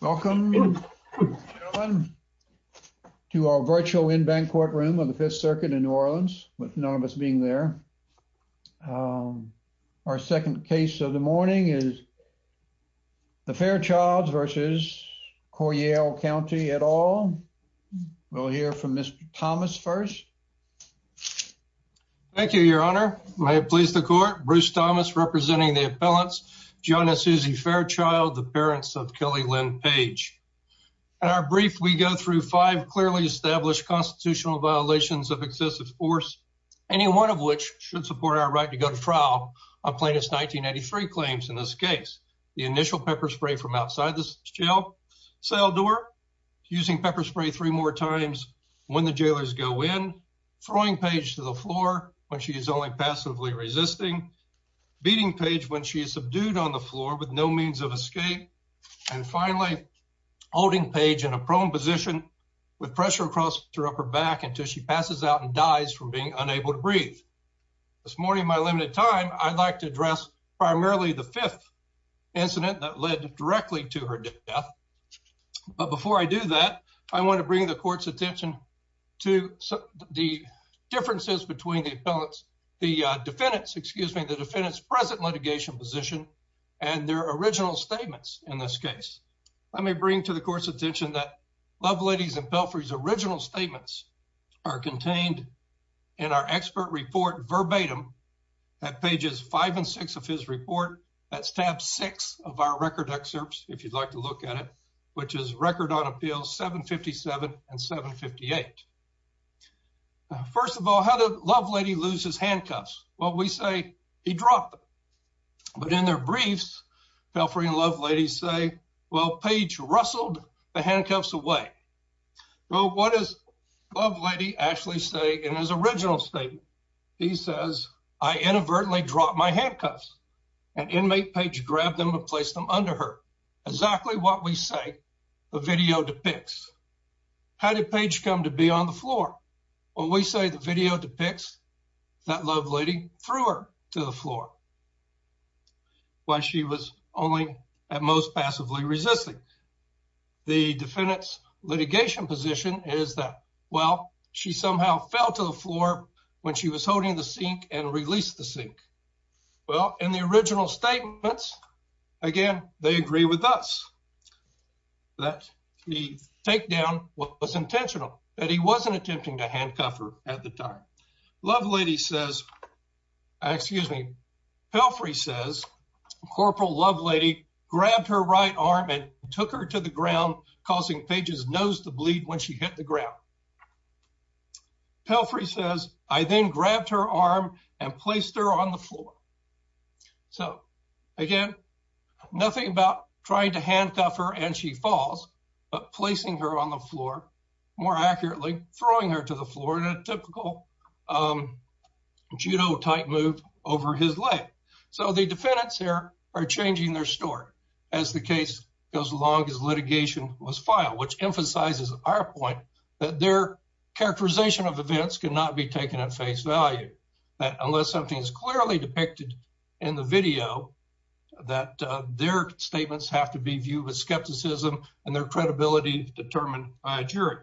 Welcome to our virtual in-bank courtroom of the Fifth Circuit in New Orleans, with none of us being there. Our second case of the morning is the Fairchilds v. Coryell County et al. We'll hear from Mr. Thomas first. Thank you, your honor. May it please the court, Bruce Thomas representing the appellants, John and Suzy Fairchild, the parents of Kelly Lynn Page. In our brief, we go through five clearly established constitutional violations of excessive force, any one of which should support our right to go to trial on plaintiff's 1983 claims in this case. The initial pepper spray from outside the jail cell door, using pepper spray three more times when the jailers go in, throwing Page to the floor when she is only passively resisting, beating Page when she is subdued on the floor with no means of escape, and finally, holding Page in a prone position with pressure across her upper back until she passes out and dies from being unable to breathe. This morning in my limited time, I'd like to address primarily the fifth incident that led directly to her death. But before I do that, I want to bring the court's attention to the differences between the defendant's present litigation position and their original statements in this case. Let me bring to the court's attention that Lovelady and Pelfrey's original statements are contained in our expert report verbatim at pages five and six of his report. That's tab six of our record excerpts, if you'd like to look at it, which is record on appeals 757 and 758. First of all, how did Lovelady lose his handcuffs? Well, we say he dropped them. But in their briefs, Pelfrey and Lovelady say, well, Page rustled the handcuffs away. Well, what does Lovelady actually say in his original statement? He says, I inadvertently dropped my handcuffs and inmate Page grabbed them and placed them under her. Exactly what we say the video depicts. How did Page come to be on the floor? Well, we say the video depicts that Lovelady threw her to the floor while she was only at most passively resisting. The defendant's litigation position is that, well, she somehow fell to the floor when she was holding the sink and released the sink. Well, in the original statements, again, they agree with us that the takedown was intentional, that he wasn't attempting to handcuff her at the time. Lovelady says, excuse me, Pelfrey says, Corporal Lovelady grabbed her right arm and took her to the ground, causing Page's nose to bleed when she hit the ground. Pelfrey says, I then grabbed her arm and placed her on the floor. So again, nothing about trying to handcuff her and she falls, but placing her on the floor, more accurately throwing her to the floor in a typical judo type move over his leg. So the defendants here are changing their story as the case goes along as litigation was filed, which emphasizes our point that their characterization of events cannot be taken at face value, that unless something is clearly depicted in the video, that their statements have to be viewed with skepticism and their credibility determined by a jury.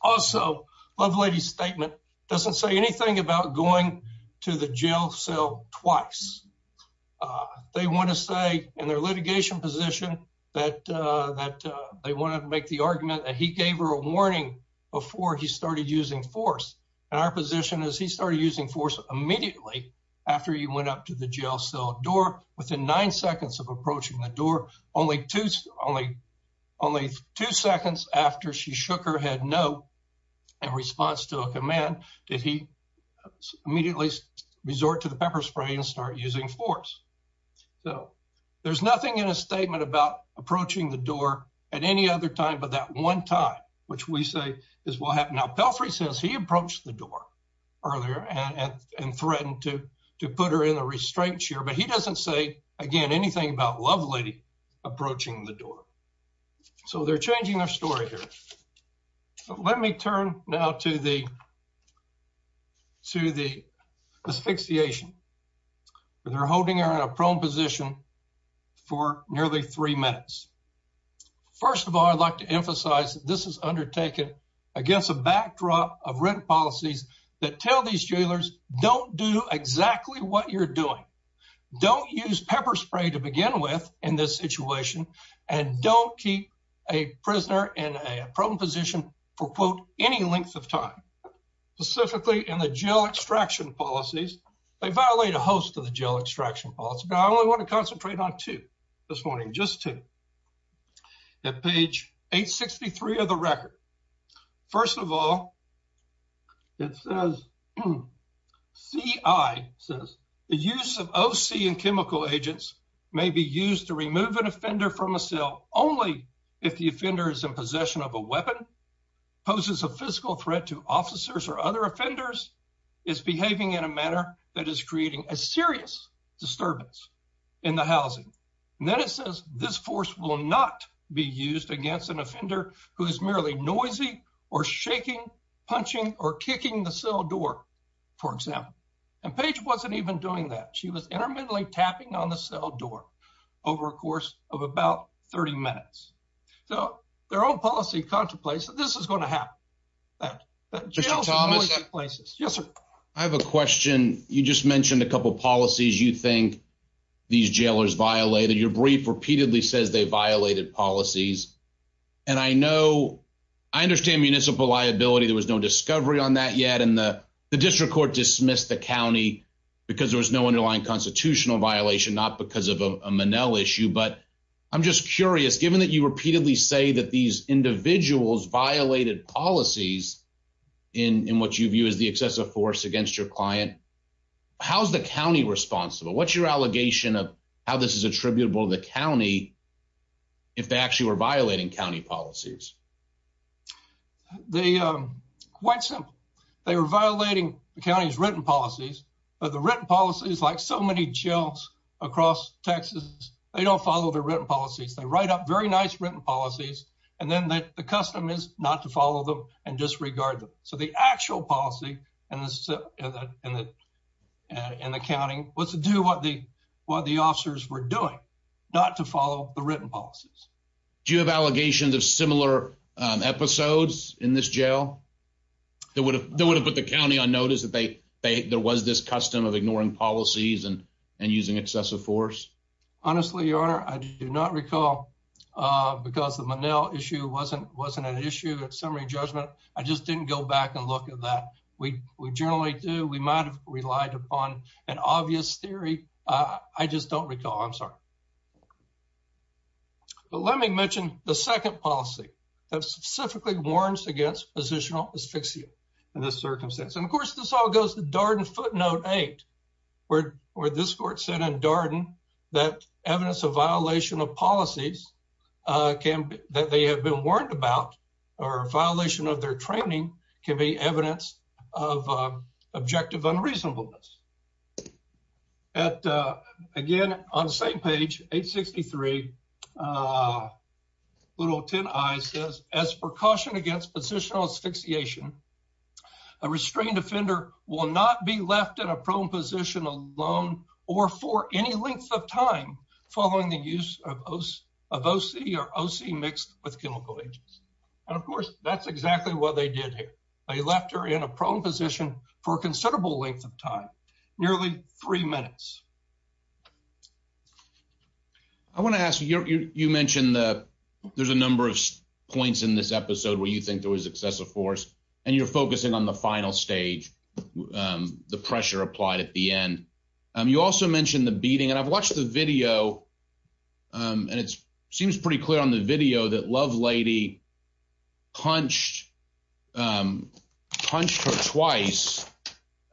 Also, Lovelady's statement doesn't say anything about going to the jail cell twice. They want to say in their litigation position that they wanted to make the argument that he gave her a warning before he started using force. And our position is he started using force immediately after he went up to the jail cell door, within nine seconds of approaching the door, only two seconds after she shook her head no in response to a command, did he immediately resort to the pepper spray and start using force. So there's nothing in a statement about approaching the door at any other time, but that one time, which we say is what happened. Now, Pelfrey says he approached the door earlier and threatened to put her in a restraint chair, but he doesn't say again, anything about Lovelady approaching the door. So they're changing their story here. Let me turn now to the asphyxiation. They're holding her in a prone position for nearly three minutes. First of all, I'd like to emphasize that this is undertaken against a backdrop of written policies that tell these jailers, don't do exactly what you're doing. Don't use pepper spray to begin with in this situation, and don't keep a prisoner in a prone position for quote, any length of time, specifically in the jail extraction policies. They violate a host of the jail extraction policy, but I only want to concentrate on two this morning, just to that page 863 of the record. First of all, it says, CI says the use of OC and chemical agents may be used to remove an offender from a cell only if the offender is in possession of a weapon, poses a physical threat to officers or other offenders, is behaving in a manner that is creating a serious disturbance in the housing. And then it says this force will not be used against an offender who is merely noisy or shaking, punching, or kicking the cell door, for example. And Paige wasn't even doing that. She was intermittently tapping on the cell door over a course of about 30 minutes. So their own policy contemplates that this is going to happen. Yes, sir. I have a question. You just mentioned a these jailers violated your brief, repeatedly says they violated policies. And I know I understand municipal liability. There was no discovery on that yet. And the district court dismissed the county because there was no underlying constitutional violation, not because of a Manel issue. But I'm just curious, given that you repeatedly say that these individuals violated policies in what you view as the excessive force against your client, how's the county responsible? What's your allegation of how this is attributable to the county if they actually were violating county policies? Quite simple. They were violating the county's written policies. But the written policies, like so many jails across Texas, they don't follow the written policies. They write up very nice written policies. And then the custom is not to follow them and disregard them. So the actual policy in the county was to do what the officers were doing, not to follow the written policies. Do you have allegations of similar episodes in this jail that would have put the county on notice that there was this custom of ignoring policies and using excessive force? Honestly, your honor, I do not recall because the Manel issue wasn't an issue at summary judgment. I just didn't go back and look at that. We generally do. We might have relied upon an obvious theory. I just don't recall. I'm sorry. But let me mention the second policy that specifically warns against positional asphyxia in this circumstance. And of course, this all goes to Darden footnote eight, where this court said in Darden that evidence of violation of policies that they have been warned about or a violation of their training can be evidence of objective unreasonableness. Again, on the same page, 863, little 10 I says as precaution against positional asphyxiation, a restrained offender will not be of OC or OC mixed with chemical agents. And of course, that's exactly what they did here. They left her in a prone position for a considerable length of time, nearly three minutes. I want to ask you, you mentioned that there's a number of points in this episode where you think there was excessive force and you're focusing on the final stage, the pressure applied at the end. You also mentioned the beating. And I've watched the video and it seems pretty clear on the video that love lady punched punched her twice.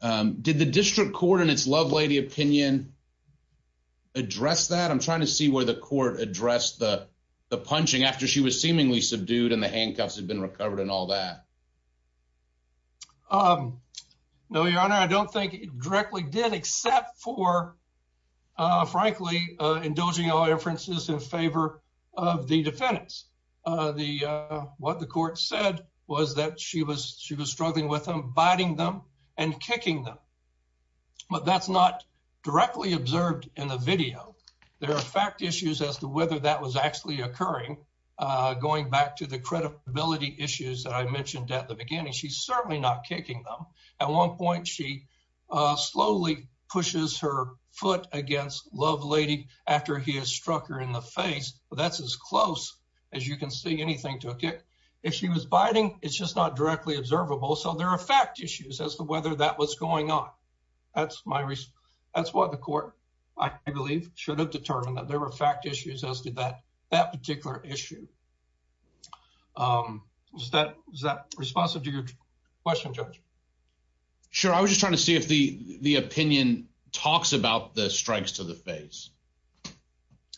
Did the district court in its love lady opinion address that? I'm trying to see where the court addressed the punching after she was seemingly subdued and the handcuffs have been recovered and all that. No, your honor, I don't think directly did, except for, frankly, indulging all inferences in favor of the defendants. The what the court said was that she was, she was struggling with them, biting them and kicking them. But that's not directly observed in the video. There are fact issues as to whether that was actually occurring. Going back to the credibility issues that I mentioned at the beginning, she's certainly not kicking them. At one point, she slowly pushes her foot against love lady after he has struck her in the face. But that's as close as you can see anything took it. If she was biting, it's just not directly observable. So there are fact issues as to whether that was going on. That's my reason. That's what the court, I believe, should have determined that there were fact issues as to that, that particular issue. Was that was that responsive to your question, judge? Sure. I was just trying to see if the opinion talks about the strikes to the face.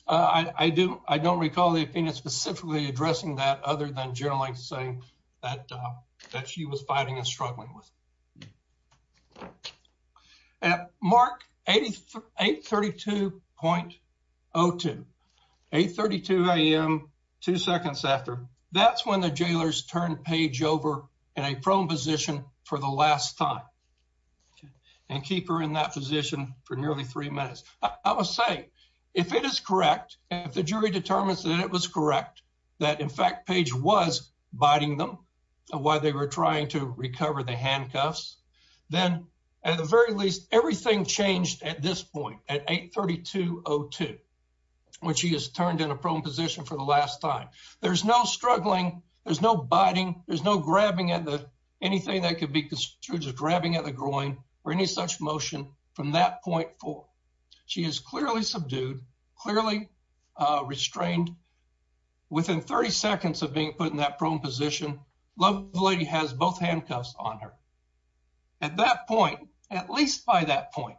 I do. I don't recall the opinion specifically addressing that other than generally saying that that she was fighting and struggling with. At mark 832.02, 832 a.m. two seconds after, that's when the jailers turned page over in a prone position for the last time and keep her in that position for nearly three minutes. I would say if it is correct, if the jury determines that it was correct, that in fact, page was biting them while they were trying to recover the handcuffs, then at the very least, everything changed at this point at 832.02, which he has turned in a prone position for the last time. There's no struggling. There's no biting. There's no grabbing at the, anything that could be construed as grabbing at the groin or any such motion from that point forward. She is clearly subdued, clearly restrained within 30 seconds of being put in that prone position. The lady has both handcuffs on her. At that point, at least by that point,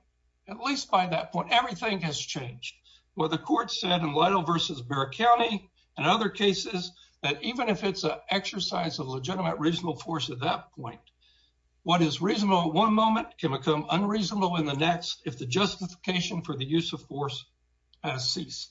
at least by that point, everything has changed. Well, the court said in Lytle versus Barrett County and other cases that even if it's an exercise of legitimate, reasonable force at that point, what is reasonable at one moment can become unreasonable in the next if the justification for the use of force has ceased.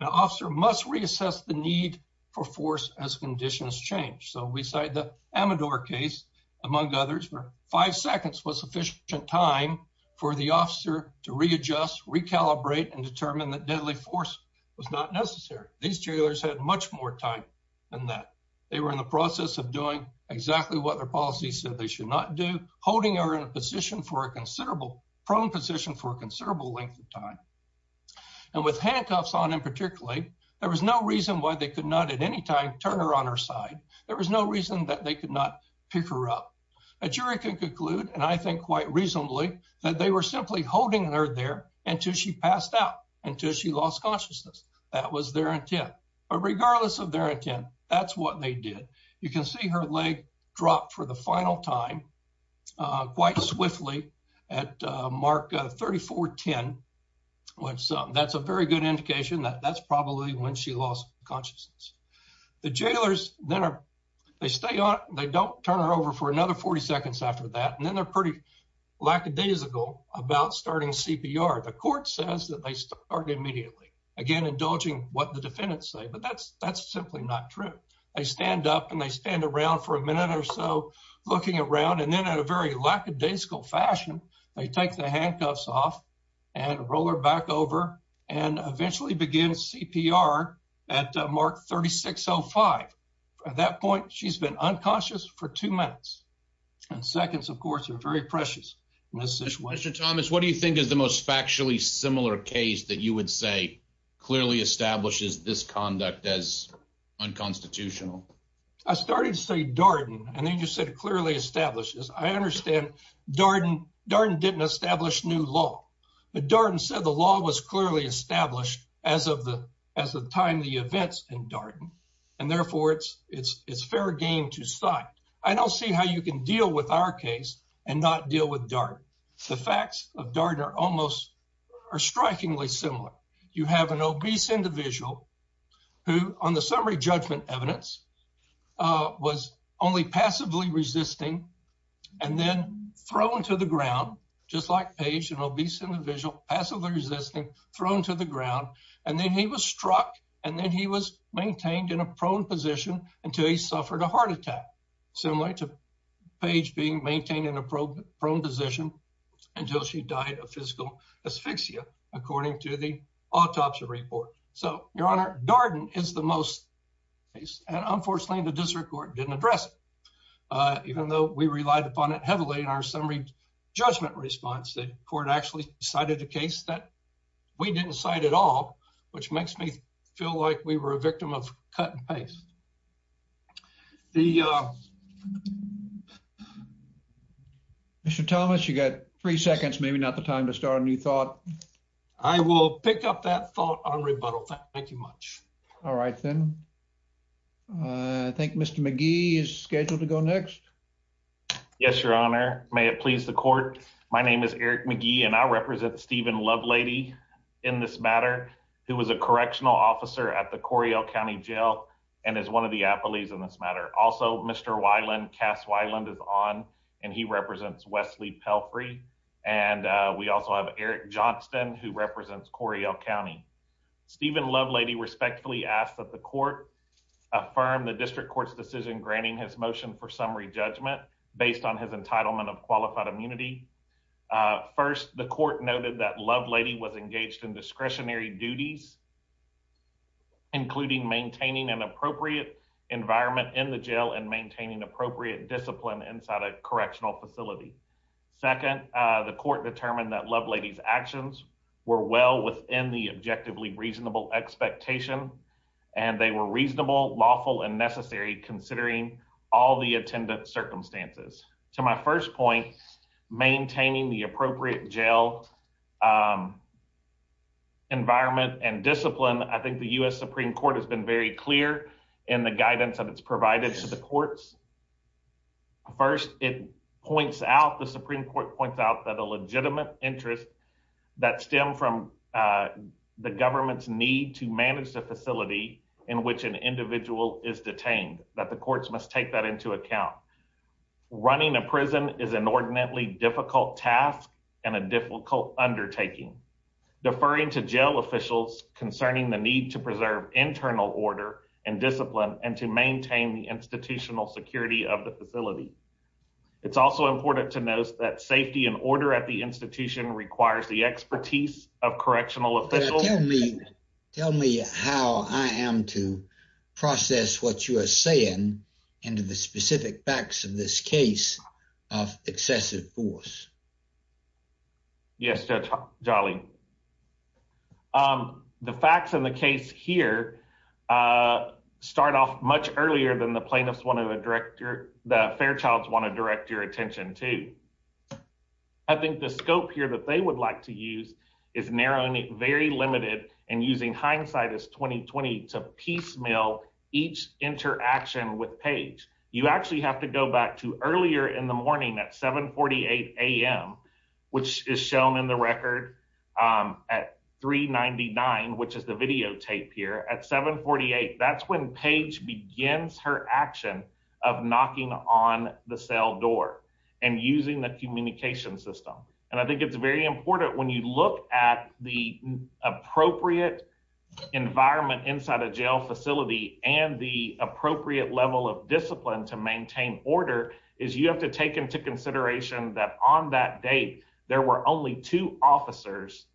An officer must reassess the need for force as conditions change. So we cite the Amador case, among others, where five seconds was sufficient time for the officer to readjust, recalibrate, and determine that deadly force was not necessary. These jailers had much more time than that. They were in the process of doing exactly what their policy said they should not do, holding her in a position for a considerable, prone position for a considerable length of time. And with handcuffs on in particularly, there was no reason why they could not at any time turn her on her side. There was no reason that they could not pick her up. A jury can conclude, and I think quite reasonably, that they were simply holding her there until she passed out, until she lost consciousness. That was their intent. But regardless of their intent, that's what they did. You can see her leg dropped for the final time quite swiftly at mark 3410. That's a very good indication that that's probably when she lost consciousness. The jailers, they stay on, they don't turn her over for another 40 seconds after that, and then they're pretty lackadaisical about starting CPR. The court says that they start immediately, again indulging what the defendants say, but that's simply not true. They stand up, and they stand around for a minute or so, looking around, and then in a very lackadaisical fashion, they take the handcuffs off and roll her back over and eventually begin CPR at mark 3605. At that point, she's been unconscious for two minutes, and seconds, of course, are very precious. Mr. Thomas, what do you think is the most factually similar case that you would say clearly establishes this conduct as unconstitutional? I started to say Darden, and then you said it clearly establishes. I understand Darden didn't establish new law, but Darden said the law was clearly established as of the time the events in Darden, and therefore, it's fair game to cite. I don't see how you can deal with our case and not deal with Darden. The facts of Darden are strikingly similar. You have an obese individual who, on the summary judgment evidence, was only passively resisting and then thrown to the ground, just like Paige, an obese individual, passively resisting, thrown to the ground, and then he was struck, and then he was maintained in a prone position until he suffered a heart attack, similar to Paige being maintained in a prone position until she died of physical asphyxia, according to the autopsy report. So, Your Honor, Darden is the most case, and unfortunately, the district court didn't address it, even though we relied upon it heavily in our summary judgment response. The court actually cited a case that we didn't cite at all, which makes me feel like we were a victim of cut and paste. Mr. Thomas, you got three seconds, maybe not the time to start a new thought. I will pick up that thought on rebuttal. Thank you much. All right, then. I think Mr. McGee is scheduled to go next. Yes, Your Honor. May it please the court. My name is Eric McGee, and I represent Stephen Lovelady in this matter, who was a correctional officer at the Coryell County Jail and is one of the affilies in this matter. Also, Mr. Weiland, Cass Weiland, is on, and he represents Wesley Pelfrey, and we also have Eric Johnston, who represents Coryell County. Stephen Lovelady respectfully asks that the court affirm the district court's decision granting his motion for summary judgment based on his entitlement of qualified immunity. First, the court noted that Lovelady was engaged in discretionary duties, including maintaining an appropriate environment in the jail and maintaining appropriate discipline inside a correctional facility. Second, the court determined that Lovelady's actions were well within the objectively reasonable expectation, and they were reasonable, lawful, and necessary considering all the attendant circumstances. To my first point, maintaining the appropriate jail environment and discipline, I think the U.S. Supreme Court has been very clear in the guidance that it's provided to the courts. First, it points out, the Supreme Court points out that a legitimate interest that stem from the government's need to manage the facility in which an individual is detained, that the courts must take that into account. Running a prison is an ordinantly difficult task and a difficult undertaking. Deferring to jail officials concerning the need to preserve internal order and discipline and to maintain the institutional security of the facility. It's also important to note that safety and order at the institution requires the expertise of correctional officials. Tell me how I am to process what you are saying into the specific facts of this case of excessive force. Yes, Judge Jolly. The facts in the case here start off much earlier than the plaintiffs want to direct your, the Fairchild's want to direct your attention to. I think the scope here that they would like to use is narrowing it very limited and using hindsight as 20-20 to piecemeal each interaction with Paige. You actually have to go back to earlier in the morning at 7.48 a.m., which is shown in the record at 3.99, which is the videotape here, at 7.48. That's when Paige begins her action of knocking on the cell door and using the environment inside a jail facility and the appropriate level of discipline to maintain order is you have to take into consideration that on that date, there were only two officers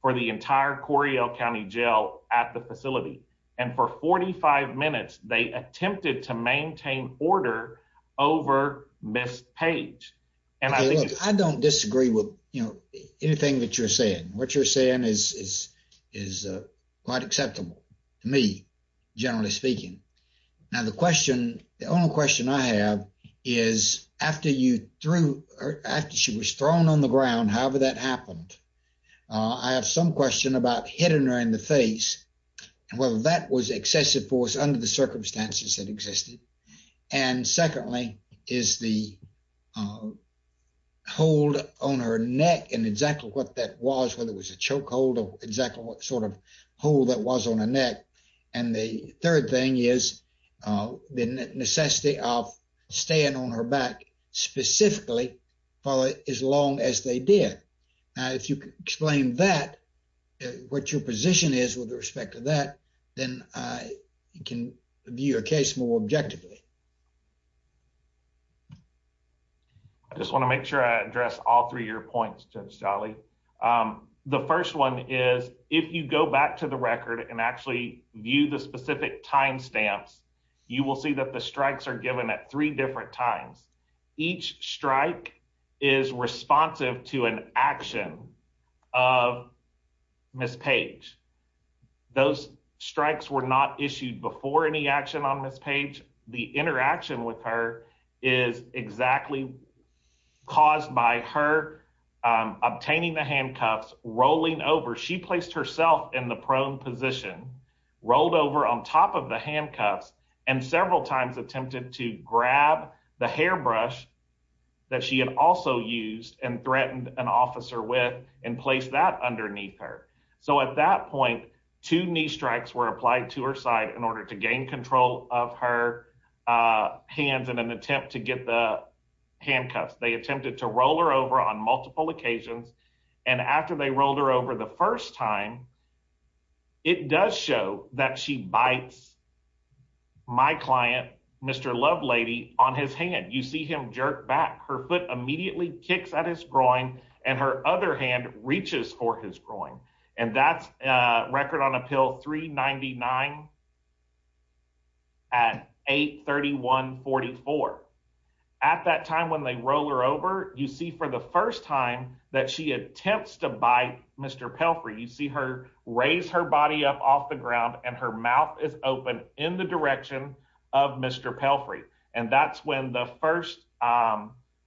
for the entire Coryell County Jail at the facility. And for 45 minutes, they attempted to maintain order over Ms. Paige. I don't disagree with anything that you're saying. What you're saying is quite acceptable to me, generally speaking. Now, the question, the only question I have is after you threw, after she was thrown on the ground, however that happened, I have some question about hitting her in the face and whether that was excessive force under the circumstances that existed. And secondly, is the hold on her neck and exactly what that was, whether it was a choke hold or exactly what sort of hold that was on her neck. And the third thing is the necessity of staying on her back specifically for as long as they did. Now, if you could explain that, what your position is with respect to that, then I can view your case more objectively. I just want to make sure I address all three of your points, Judge Jolly. The first one is if you go back to the record and actually view the specific time stamps, you will see that the strikes are given at three different times. Each strike is responsive to an action of Ms. Paige. Those strikes were not issued before any action on Ms. Paige. The interaction with her is exactly caused by her obtaining the handcuffs, rolling over, she placed herself in the prone position, rolled over on top of the handcuffs and several times attempted to grab the hairbrush that she had also used and threatened an officer with and placed that underneath her. So at that point, two knee strikes were applied to her side in order to gain control of her hands in an attempt to get the handcuffs. They attempted to roll her over on multiple occasions and after they rolled her over the first time, it does show that she bites my client, Mr. Lovelady, on his hand. You see him jerk back. Her foot immediately kicks at his groin and her other hand reaches for his groin. And that's record on appeal 399 at 831-44. At that time when they roll her over, you see for the first time that she attempts to bite Mr. Pelfrey. You see her raise her body up off the ground and her mouth is open in the direction of Mr. Pelfrey. And that's when the first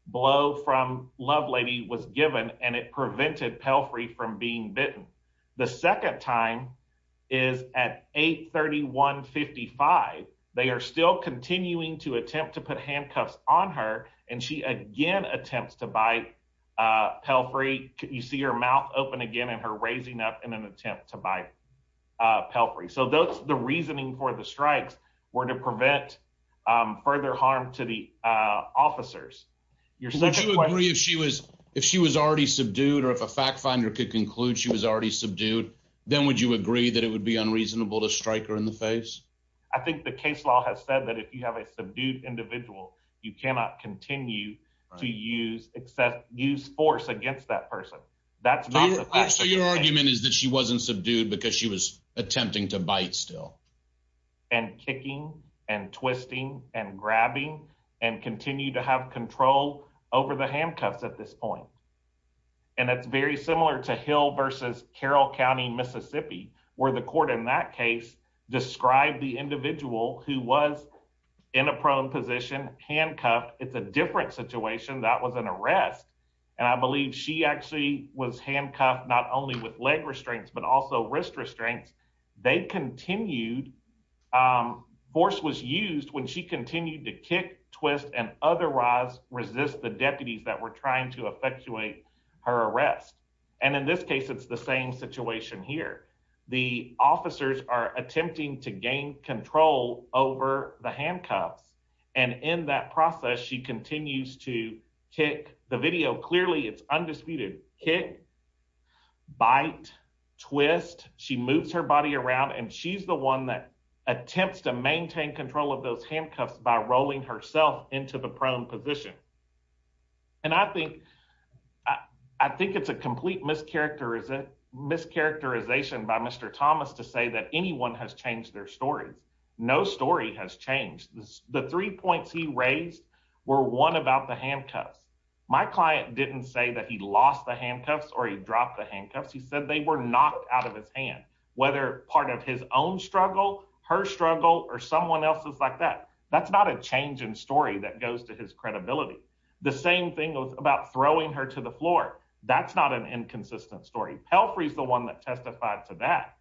blow from Lovelady was given and it prevented Pelfrey from being bitten. The second time is at 831-55. They are still continuing to attempt to put handcuffs on her and she again attempts to bite Pelfrey. You see her mouth open again and her raising up in an attempt to bite Pelfrey. So that's the reasoning for the strikes were to conclude she was already subdued, then would you agree that it would be unreasonable to strike her in the face? I think the case law has said that if you have a subdued individual, you cannot continue to use force against that person. So your argument is that she wasn't subdued because she was attempting to bite still? And kicking and twisting and grabbing and continue to have control over the handcuffs at this point. And that's very similar to Hill versus Carroll County, Mississippi, where the court in that case described the individual who was in a prone position handcuffed. It's a different situation that was an arrest. And I believe she actually was handcuffed not only with leg restraints, but also wrist restraints. They continued force was used when she continued to kick, twist and otherwise resist the deputies that were trying to effectuate her arrest. And in this case, it's the same situation here. The officers are attempting to gain control over the handcuffs. And in that process, she continues to kick the video clearly it's undisputed kick, bite, twist, she moves her body around and she's the one that attempts to by rolling herself into the prone position. And I think I think it's a complete mischaracterization mischaracterization by Mr. Thomas to say that anyone has changed their stories. No story has changed. The three points he raised were one about the handcuffs. My client didn't say that he lost the handcuffs or he dropped the handcuffs. He said they were knocked out of his whether part of his own struggle, her struggle or someone else's like that. That's not a change in story that goes to his credibility. The same thing was about throwing her to the floor. That's not an inconsistent story. Pelfrey is the one that testified to that.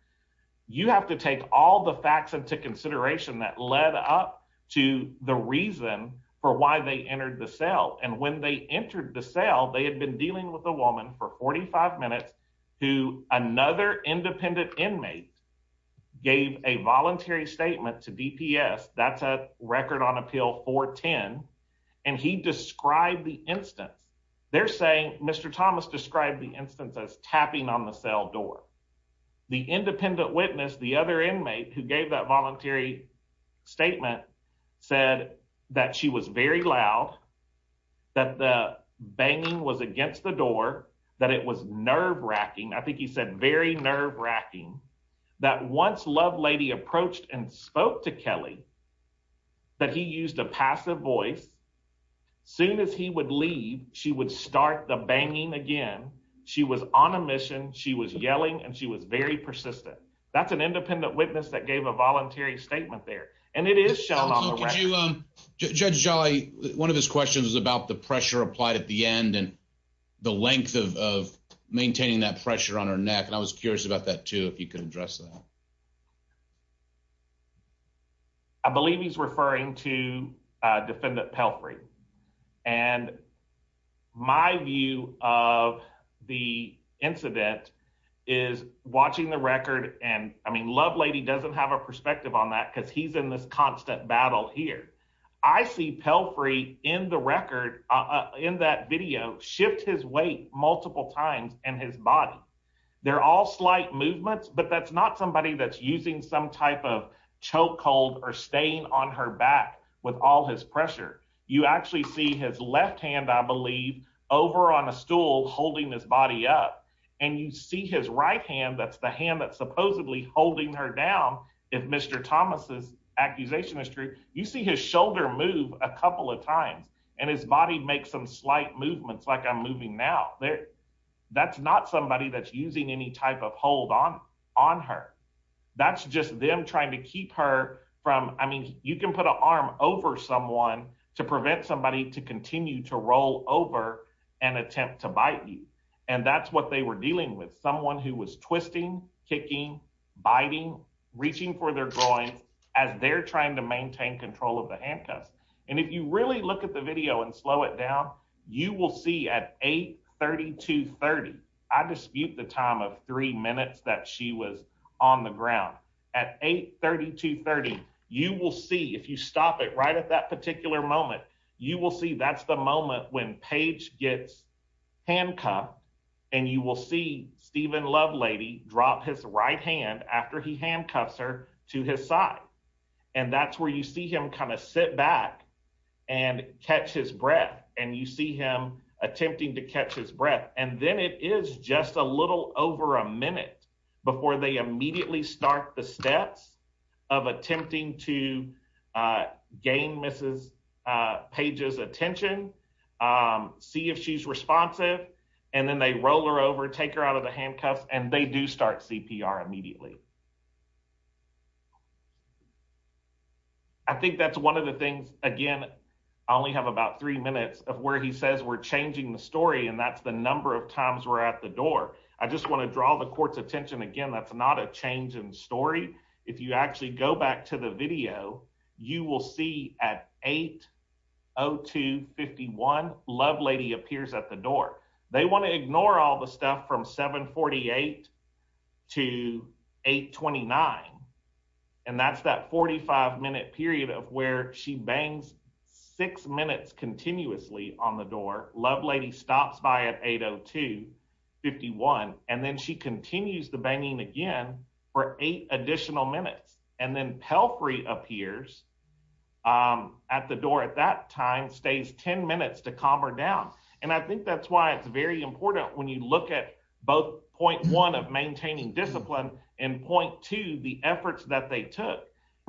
You have to take all the facts into consideration that led up to the reason for why they entered the cell. And when they entered the cell, they had been dealing with a woman for 45 minutes who another independent inmate gave a voluntary statement to DPS. That's a record on appeal 410. And he described the instance. They're saying Mr. Thomas described the instance as tapping on the cell door. The independent witness, the other inmate who gave that voluntary statement said that she was very loud, that the banging was against the door, that it was nerve wracking. I think he said very nerve wracking that once love lady approached and spoke to Kelly that he used a passive voice. Soon as he would leave, she would start the banging again. She was on a mission. She was yelling and she was very persistent. That's an independent witness that gave a voluntary statement there. And it is shown on the record. Judge Jolly, one of his questions is about the pressure applied at the end and the length of maintaining that pressure on her neck. And I was curious about that too, if you could address that. I believe he's referring to defendant Pelfrey. And my view of the incident is watching the record. And I mean, love lady doesn't have a perspective on that because he's in this constant battle here. I see Pelfrey in the record, in that video, shift his weight multiple times in his body. They're all slight movements, but that's not somebody that's using some type of choke hold or staying on her back with all his pressure. You actually see his left hand, I believe, over on a stool holding his body up. And you see his right hand, that's the hand that's supposedly holding her down. If Mr. Thomas's accusation is true, you see his shoulder move a couple of times and his body makes some slight movements like I'm moving now. That's not somebody that's using any type of hold on her. That's just them trying to keep her from, I mean, you can put an arm over someone to prevent somebody to continue to roll over and attempt to bite you. And that's what they were dealing with. Someone who was twisting, kicking, biting, reaching for their groin as they're trying to maintain control of the handcuffs. And if you really look at the video and slow it down, you will see at 8.32.30, I dispute the time of three minutes that she was on the ground. At 8.32.30, you will see, if you stop it right at that particular moment, you will see that's the moment when Paige gets handcuffed and you will see Stephen Lovelady drop his right hand after he handcuffs her to his side. And that's where you see him kind of sit back and catch his breath. And you see him attempting to catch his breath. And then it is just a little over a minute before they immediately start the steps of attempting to gain Mrs. Paige's attention, see if she's responsive, and then they roll her over, take her out of the handcuffs, and they do start CPR immediately. I think that's one of the things, again, I only have about three minutes of where he says we're changing the story, and that's the number of times we're at the door. I just want to draw the court's story. If you actually go back to the video, you will see at 8.02.51, Lovelady appears at the door. They want to ignore all the stuff from 7.48 to 8.29. And that's that 45-minute period of where she bangs six minutes continuously on the door. Lovelady stops by at 8.02.51, and then she takes eight additional minutes. And then Pelfrey appears at the door at that time, stays 10 minutes to calm her down. And I think that's why it's very important when you look at both point one of maintaining discipline and point two, the efforts that they took.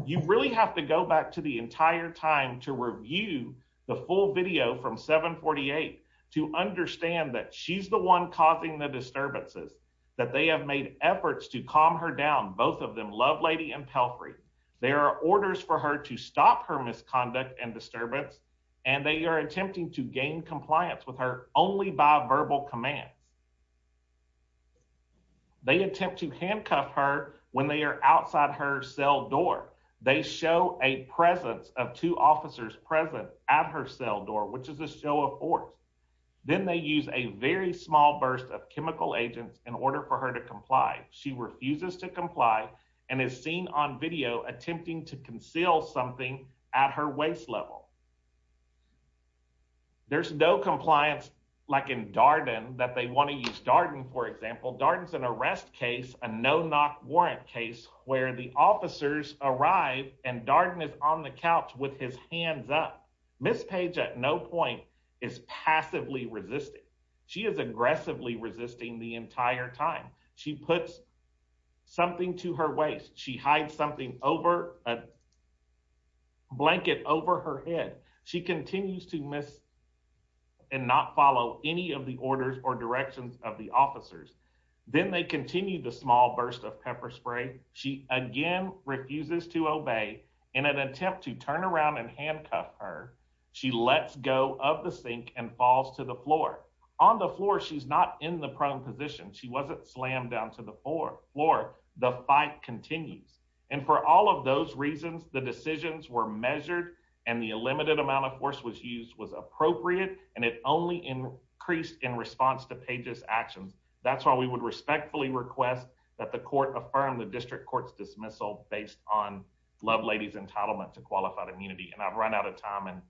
You really have to go back to the entire time to review the full video from 7.48 to understand that she's the one causing the disturbance. Both of them, Lovelady and Pelfrey, there are orders for her to stop her misconduct and disturbance, and they are attempting to gain compliance with her only by verbal commands. They attempt to handcuff her when they are outside her cell door. They show a presence of two officers present at her cell door, which is a show of force. Then they use a very small burst of and is seen on video attempting to conceal something at her waist level. There's no compliance like in Darden that they want to use. Darden, for example, Darden's an arrest case, a no-knock warrant case, where the officers arrive and Darden is on the couch with his hands up. Ms. Page at no point is passively resisting. She is aggressively resisting the She hides something over a blanket over her head. She continues to miss and not follow any of the orders or directions of the officers. Then they continue the small burst of pepper spray. She again refuses to obey. In an attempt to turn around and handcuff her, she lets go of the sink and falls to the floor. On the floor, she's not in the prone position. She wasn't slammed down to the floor. The fight continues. And for all of those reasons, the decisions were measured and the limited amount of force was used was appropriate and it only increased in response to Page's actions. That's why we would respectfully request that the court affirm the district court's dismissal based on Lovelady's entitlement to qualified immunity. And I've run out of time and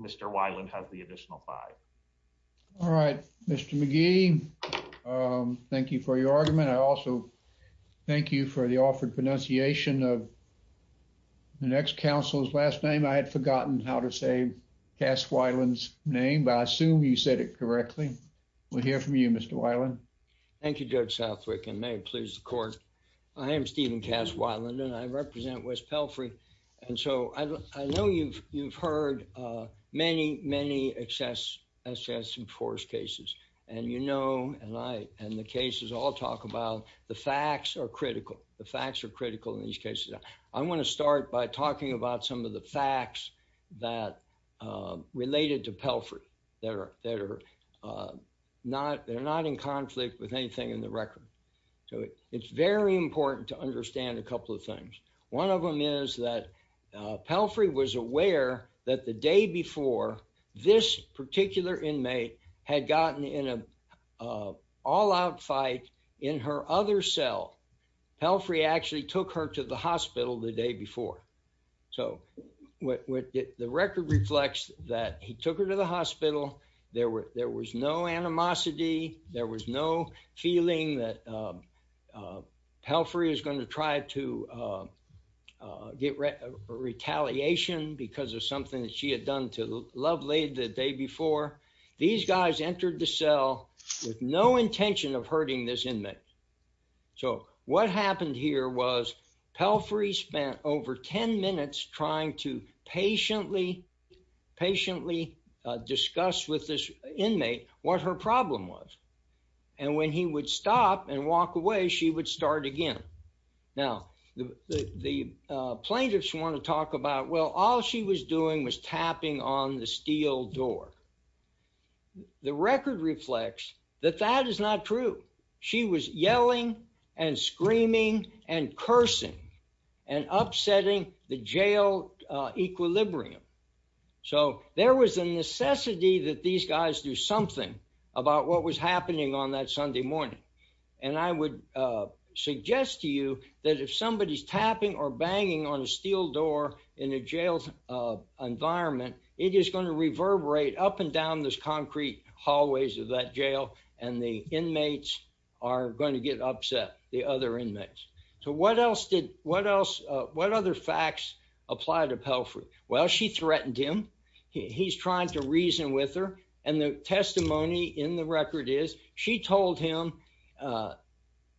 Mr. Weiland has the additional five. All right, Mr. McGee, thank you for your argument. I also thank you for the offered pronunciation of the next council's last name. I had forgotten how to say Cass Weiland's name, but I assume you said it correctly. We'll hear from you, Mr. Weiland. Thank you, Judge Southwick, and may it please the court. I am Stephen Cass Weiland and I represent West Pelfrey. And so I know you've heard many, many excess enforce cases. And you know, and the cases I'll talk about, the facts are critical. The facts are critical in these cases. I want to start by talking about some of the facts that related to Pelfrey that are not in conflict with anything in the record. So it's very important to understand a couple of things. One of them is that Pelfrey was aware that the day before this particular inmate had gotten in a all out fight in her other cell, Pelfrey actually took her to the hospital the day before. So the record reflects that he took her to the hospital. There was no animosity. There was no feeling that Pelfrey is going to try to get retaliation because of something that she had done to Lovelade the day before. These guys entered the cell with no intention of hurting this inmate. So what happened here was Pelfrey spent over 10 minutes trying to patiently, patiently discuss with this inmate what her problem was. And when he would stop and walk away, she would start again. Now, the plaintiffs want to talk about, well, all she was doing was tapping on the steel door. The record reflects that that is not true. She was yelling and screaming and cursing and upsetting the jail equilibrium. So there was a necessity that these guys do something about what was happening on that Sunday morning. And I would suggest to you that if somebody's tapping or banging on a steel door in a jail environment, it is going to reverberate up and down those concrete hallways of that jail and the inmates are going to get upset, the other inmates. So what else did, what else, what other facts apply to Pelfrey? Well, she threatened him. He's trying to reason with her. And the testimony in the record is she told him, uh,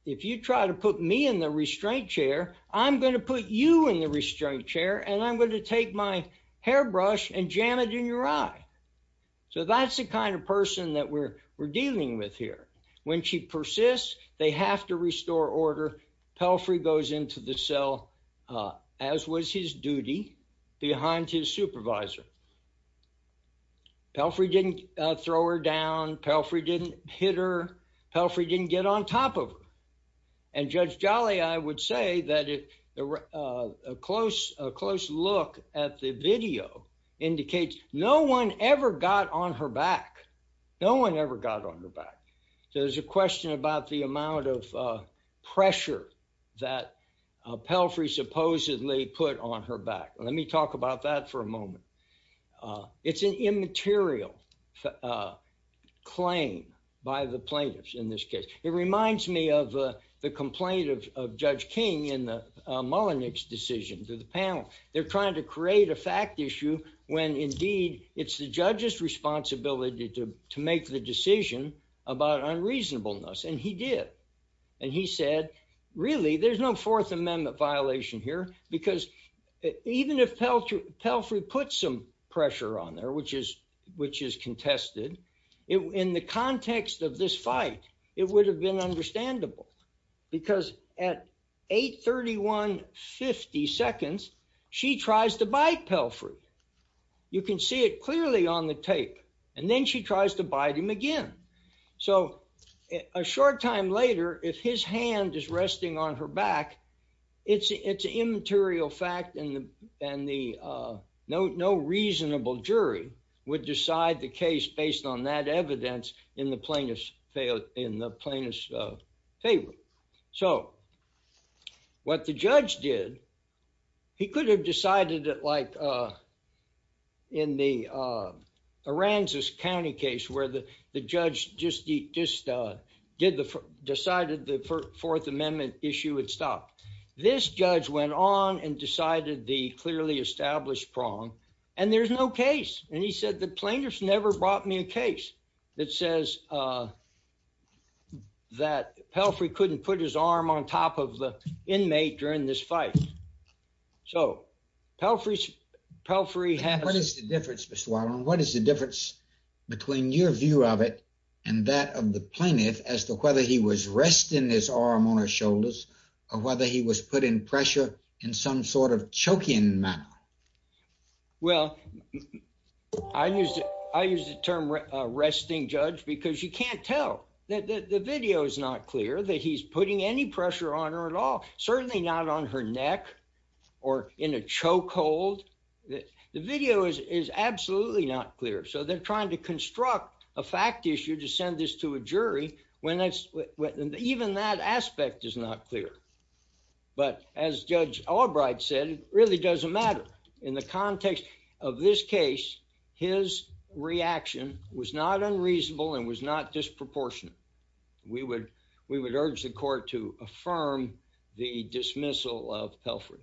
if you try to put me in the restraint chair, I'm going to put you in the restraint chair and I'm going to take my hairbrush and jam it in your eye. So that's the kind of person that we're, we're dealing with here. When she persists, they have to restore order. Pelfrey goes into the cell, as was his duty behind his supervisor. Pelfrey didn't throw her down. Pelfrey didn't hit her. Pelfrey didn't get on top of her. And Judge Jolly, I would say that if there were a close, a close look at the video indicates no one ever got on her back. No one ever got on her back. So there's a question about the amount of pressure that Pelfrey supposedly put on her back. Let me talk about that for a moment. It's an immaterial claim by the plaintiffs in this case. It reminds me of the complaint of Judge King in the Mullenix decision to the panel. They're trying to create a fact issue when indeed it's the judge's responsibility to make the decision about unreasonableness. And he did. And he said, really, there's no fourth amendment violation here, because even if Pelfrey put some pressure on there, which is contested, in the context of this fight, it would have been understandable. Because at 831.50 seconds, she tries to bite Pelfrey. You can see it clearly on the tape. And then she tries to bite him again. So a short time later, if his hand is resting on her back, it's an immaterial fact and no reasonable jury would decide the case based on that evidence in the plaintiff's favor. So what the judge did, he could have decided it like in the Aransas County case where the judge just decided the fourth amendment issue would stop. This judge went on and decided the clearly established prong. And there's no case. And he said, the plaintiffs never brought me a case that says that Pelfrey couldn't put his arm on top of the inmate during this fight. So Pelfrey, Pelfrey had... What is the difference, Mr. Wildman, what is the difference between your view of it and that of the plaintiff as to whether he was resting his arm on her shoulders or whether he was put in pressure in some sort of choking manner? Well, I used, I used the term resting judge because you can't tell that the video is not clear that he's putting any pressure on her at all, certainly not on her neck or in a chokehold. The video is absolutely not clear. So they're trying to construct a fact issue to send this to a jury when even that aspect is not clear. But as Judge Albright said, it really doesn't matter. In the context of this case, his reaction was not unreasonable and was not disproportionate. We would, we would urge the court to affirm the dismissal of Pelfrey.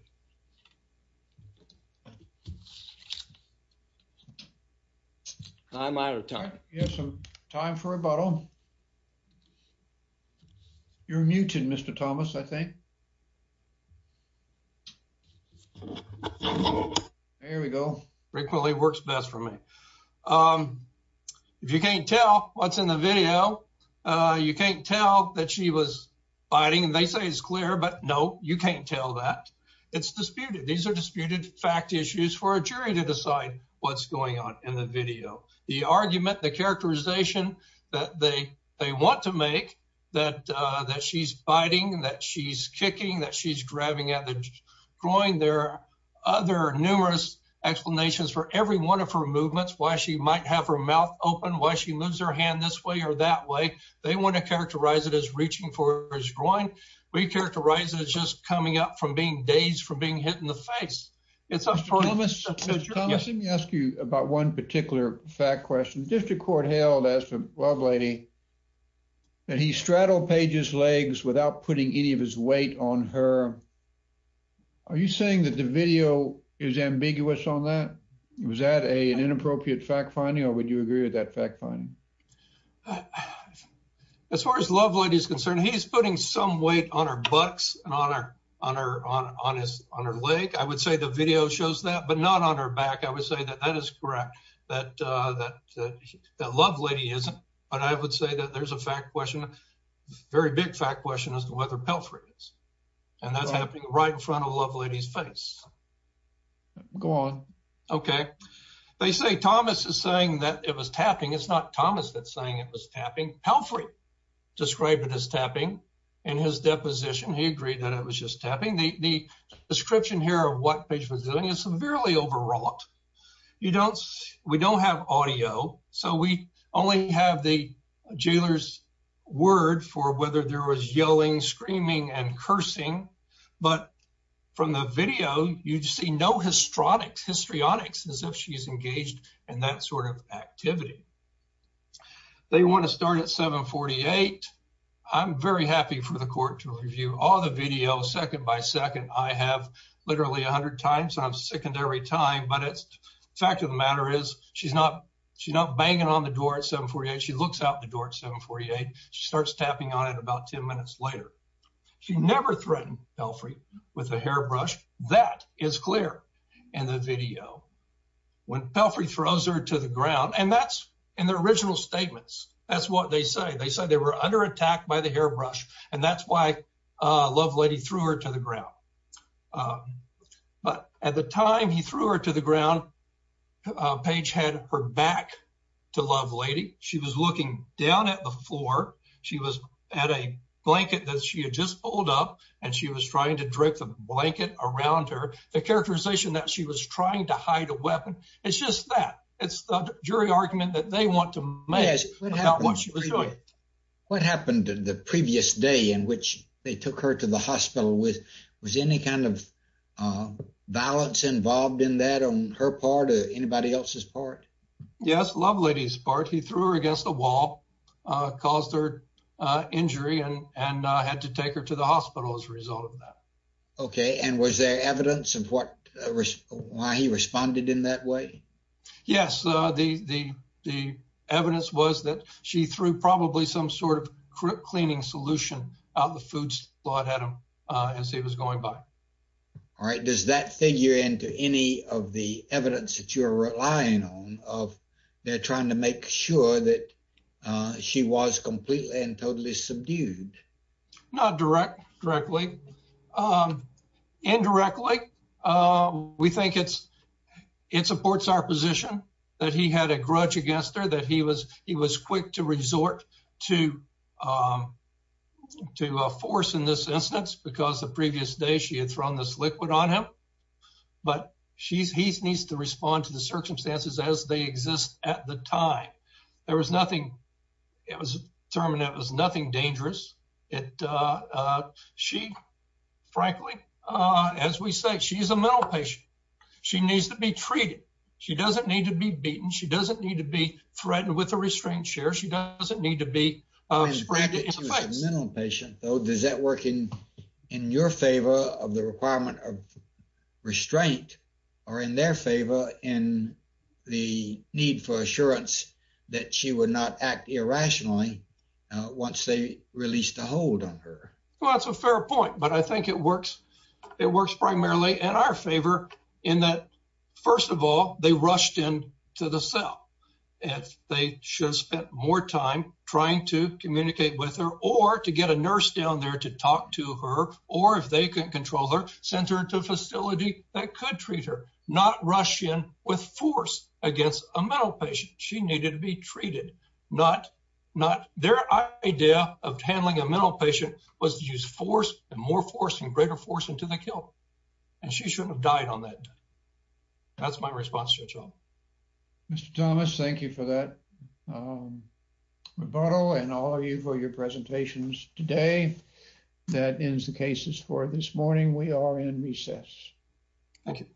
I'm out of time. You have some time for rebuttal. You're muted, Mr. Thomas, I think. There we go. Rick Willey works best for me. If you can't tell what's in the video, you can't tell that she was biting and they say it's clear, but no, you can't tell that. It's disputed. These are disputed fact issues for a jury to decide what's going on in the video. The argument, the characterization that they want to make that she's biting, that she's kicking, that she's grabbing at the groin. There are other numerous explanations for every one of her movements, why she might have her mouth open, why she moves her hand this way or that way. They want to characterize it as reaching for his groin. We characterize it as just coming up from being dazed, from being hit in the face. It's a first. Mr. Thomas, let me ask you about one particular fact question. The district court hailed, as the love lady, that he straddled Paige's legs without putting any of his weight on her. Are you saying that the video is ambiguous on that? Was that an inappropriate fact finding or would you agree with that fact finding? As far as the love lady is concerned, he's putting some weight on her butts and on her leg. I would say the video shows that, but not on her back. I would say that that is correct, that the love lady isn't, but I would say that there's a fact question, very big fact question, as to whether Pelfrey is. That's happening right in front of the love lady's face. Go on. Okay. They say Thomas is saying that it was tapping. It's not Thomas that's saying it was tapping. Pelfrey described it as tapping in his deposition. He agreed that it was just tapping. The description here of what Paige was doing is severely overwrought. You don't, we don't have audio, so we only have the jailer's word for whether there was yelling, screaming, and cursing, but from the video, you see no histrionics, histrionics, as if she's engaged in that sort of activity. They want to start at 748. I'm very happy for the court to fact of the matter is, she's not, she's not banging on the door at 748. She looks out the door at 748. She starts tapping on it about 10 minutes later. She never threatened Pelfrey with a hairbrush. That is clear in the video. When Pelfrey throws her to the ground, and that's in the original statements, that's what they say. They said they were under attack by the hairbrush, and that's why Lovelady threw her to the ground, but at the time he threw her to the ground, Paige had her back to Lovelady. She was looking down at the floor. She was at a blanket that she had just pulled up, and she was trying to drape the blanket around her. The characterization that she was trying to hide a weapon, it's just that. It's the jury argument that they want to they took her to the hospital. Was any kind of violence involved in that on her part or anybody else's part? Yes, Lovelady's part. He threw her against the wall, caused her injury, and had to take her to the hospital as a result of that. Okay, and was there evidence of why he responded in that way? Yes, the evidence was that she threw probably some sort of quick cleaning solution out the food slot at him as he was going by. All right, does that figure into any of the evidence that you're relying on of they're trying to make sure that she was completely and totally subdued? Not directly. Indirectly, we think it's supports our position that he had a grudge against her, that he was quick to resort to force in this instance because the previous day she had thrown this liquid on him, but he needs to respond to the circumstances as they exist at the time. There was nothing, it was determined it was nothing dangerous. She, frankly, as we say, she's a mental patient. She needs to be treated. She doesn't need to be beaten. She doesn't need to be threatened with a restraint chair. She doesn't need to be sprayed in the face. As a mental patient, though, does that work in your favor of the requirement of restraint or in their favor in the need for assurance that she would not act irrationally once they released a hold on her? Well, that's a fair point, but I think it works primarily in our favor in that, first of all, they rushed in to the cell. If they should have spent more time trying to communicate with her or to get a nurse down there to talk to her or if they couldn't control her, sent her to a facility that could treat her, not rush in with force against a mental patient. She needed to be used force and more force and greater force into the kill and she shouldn't have died on that. That's my response to her. Mr. Thomas, thank you for that rebuttal and all of you for your presentations today. That ends the cases for this morning. We are in recess. Thank you.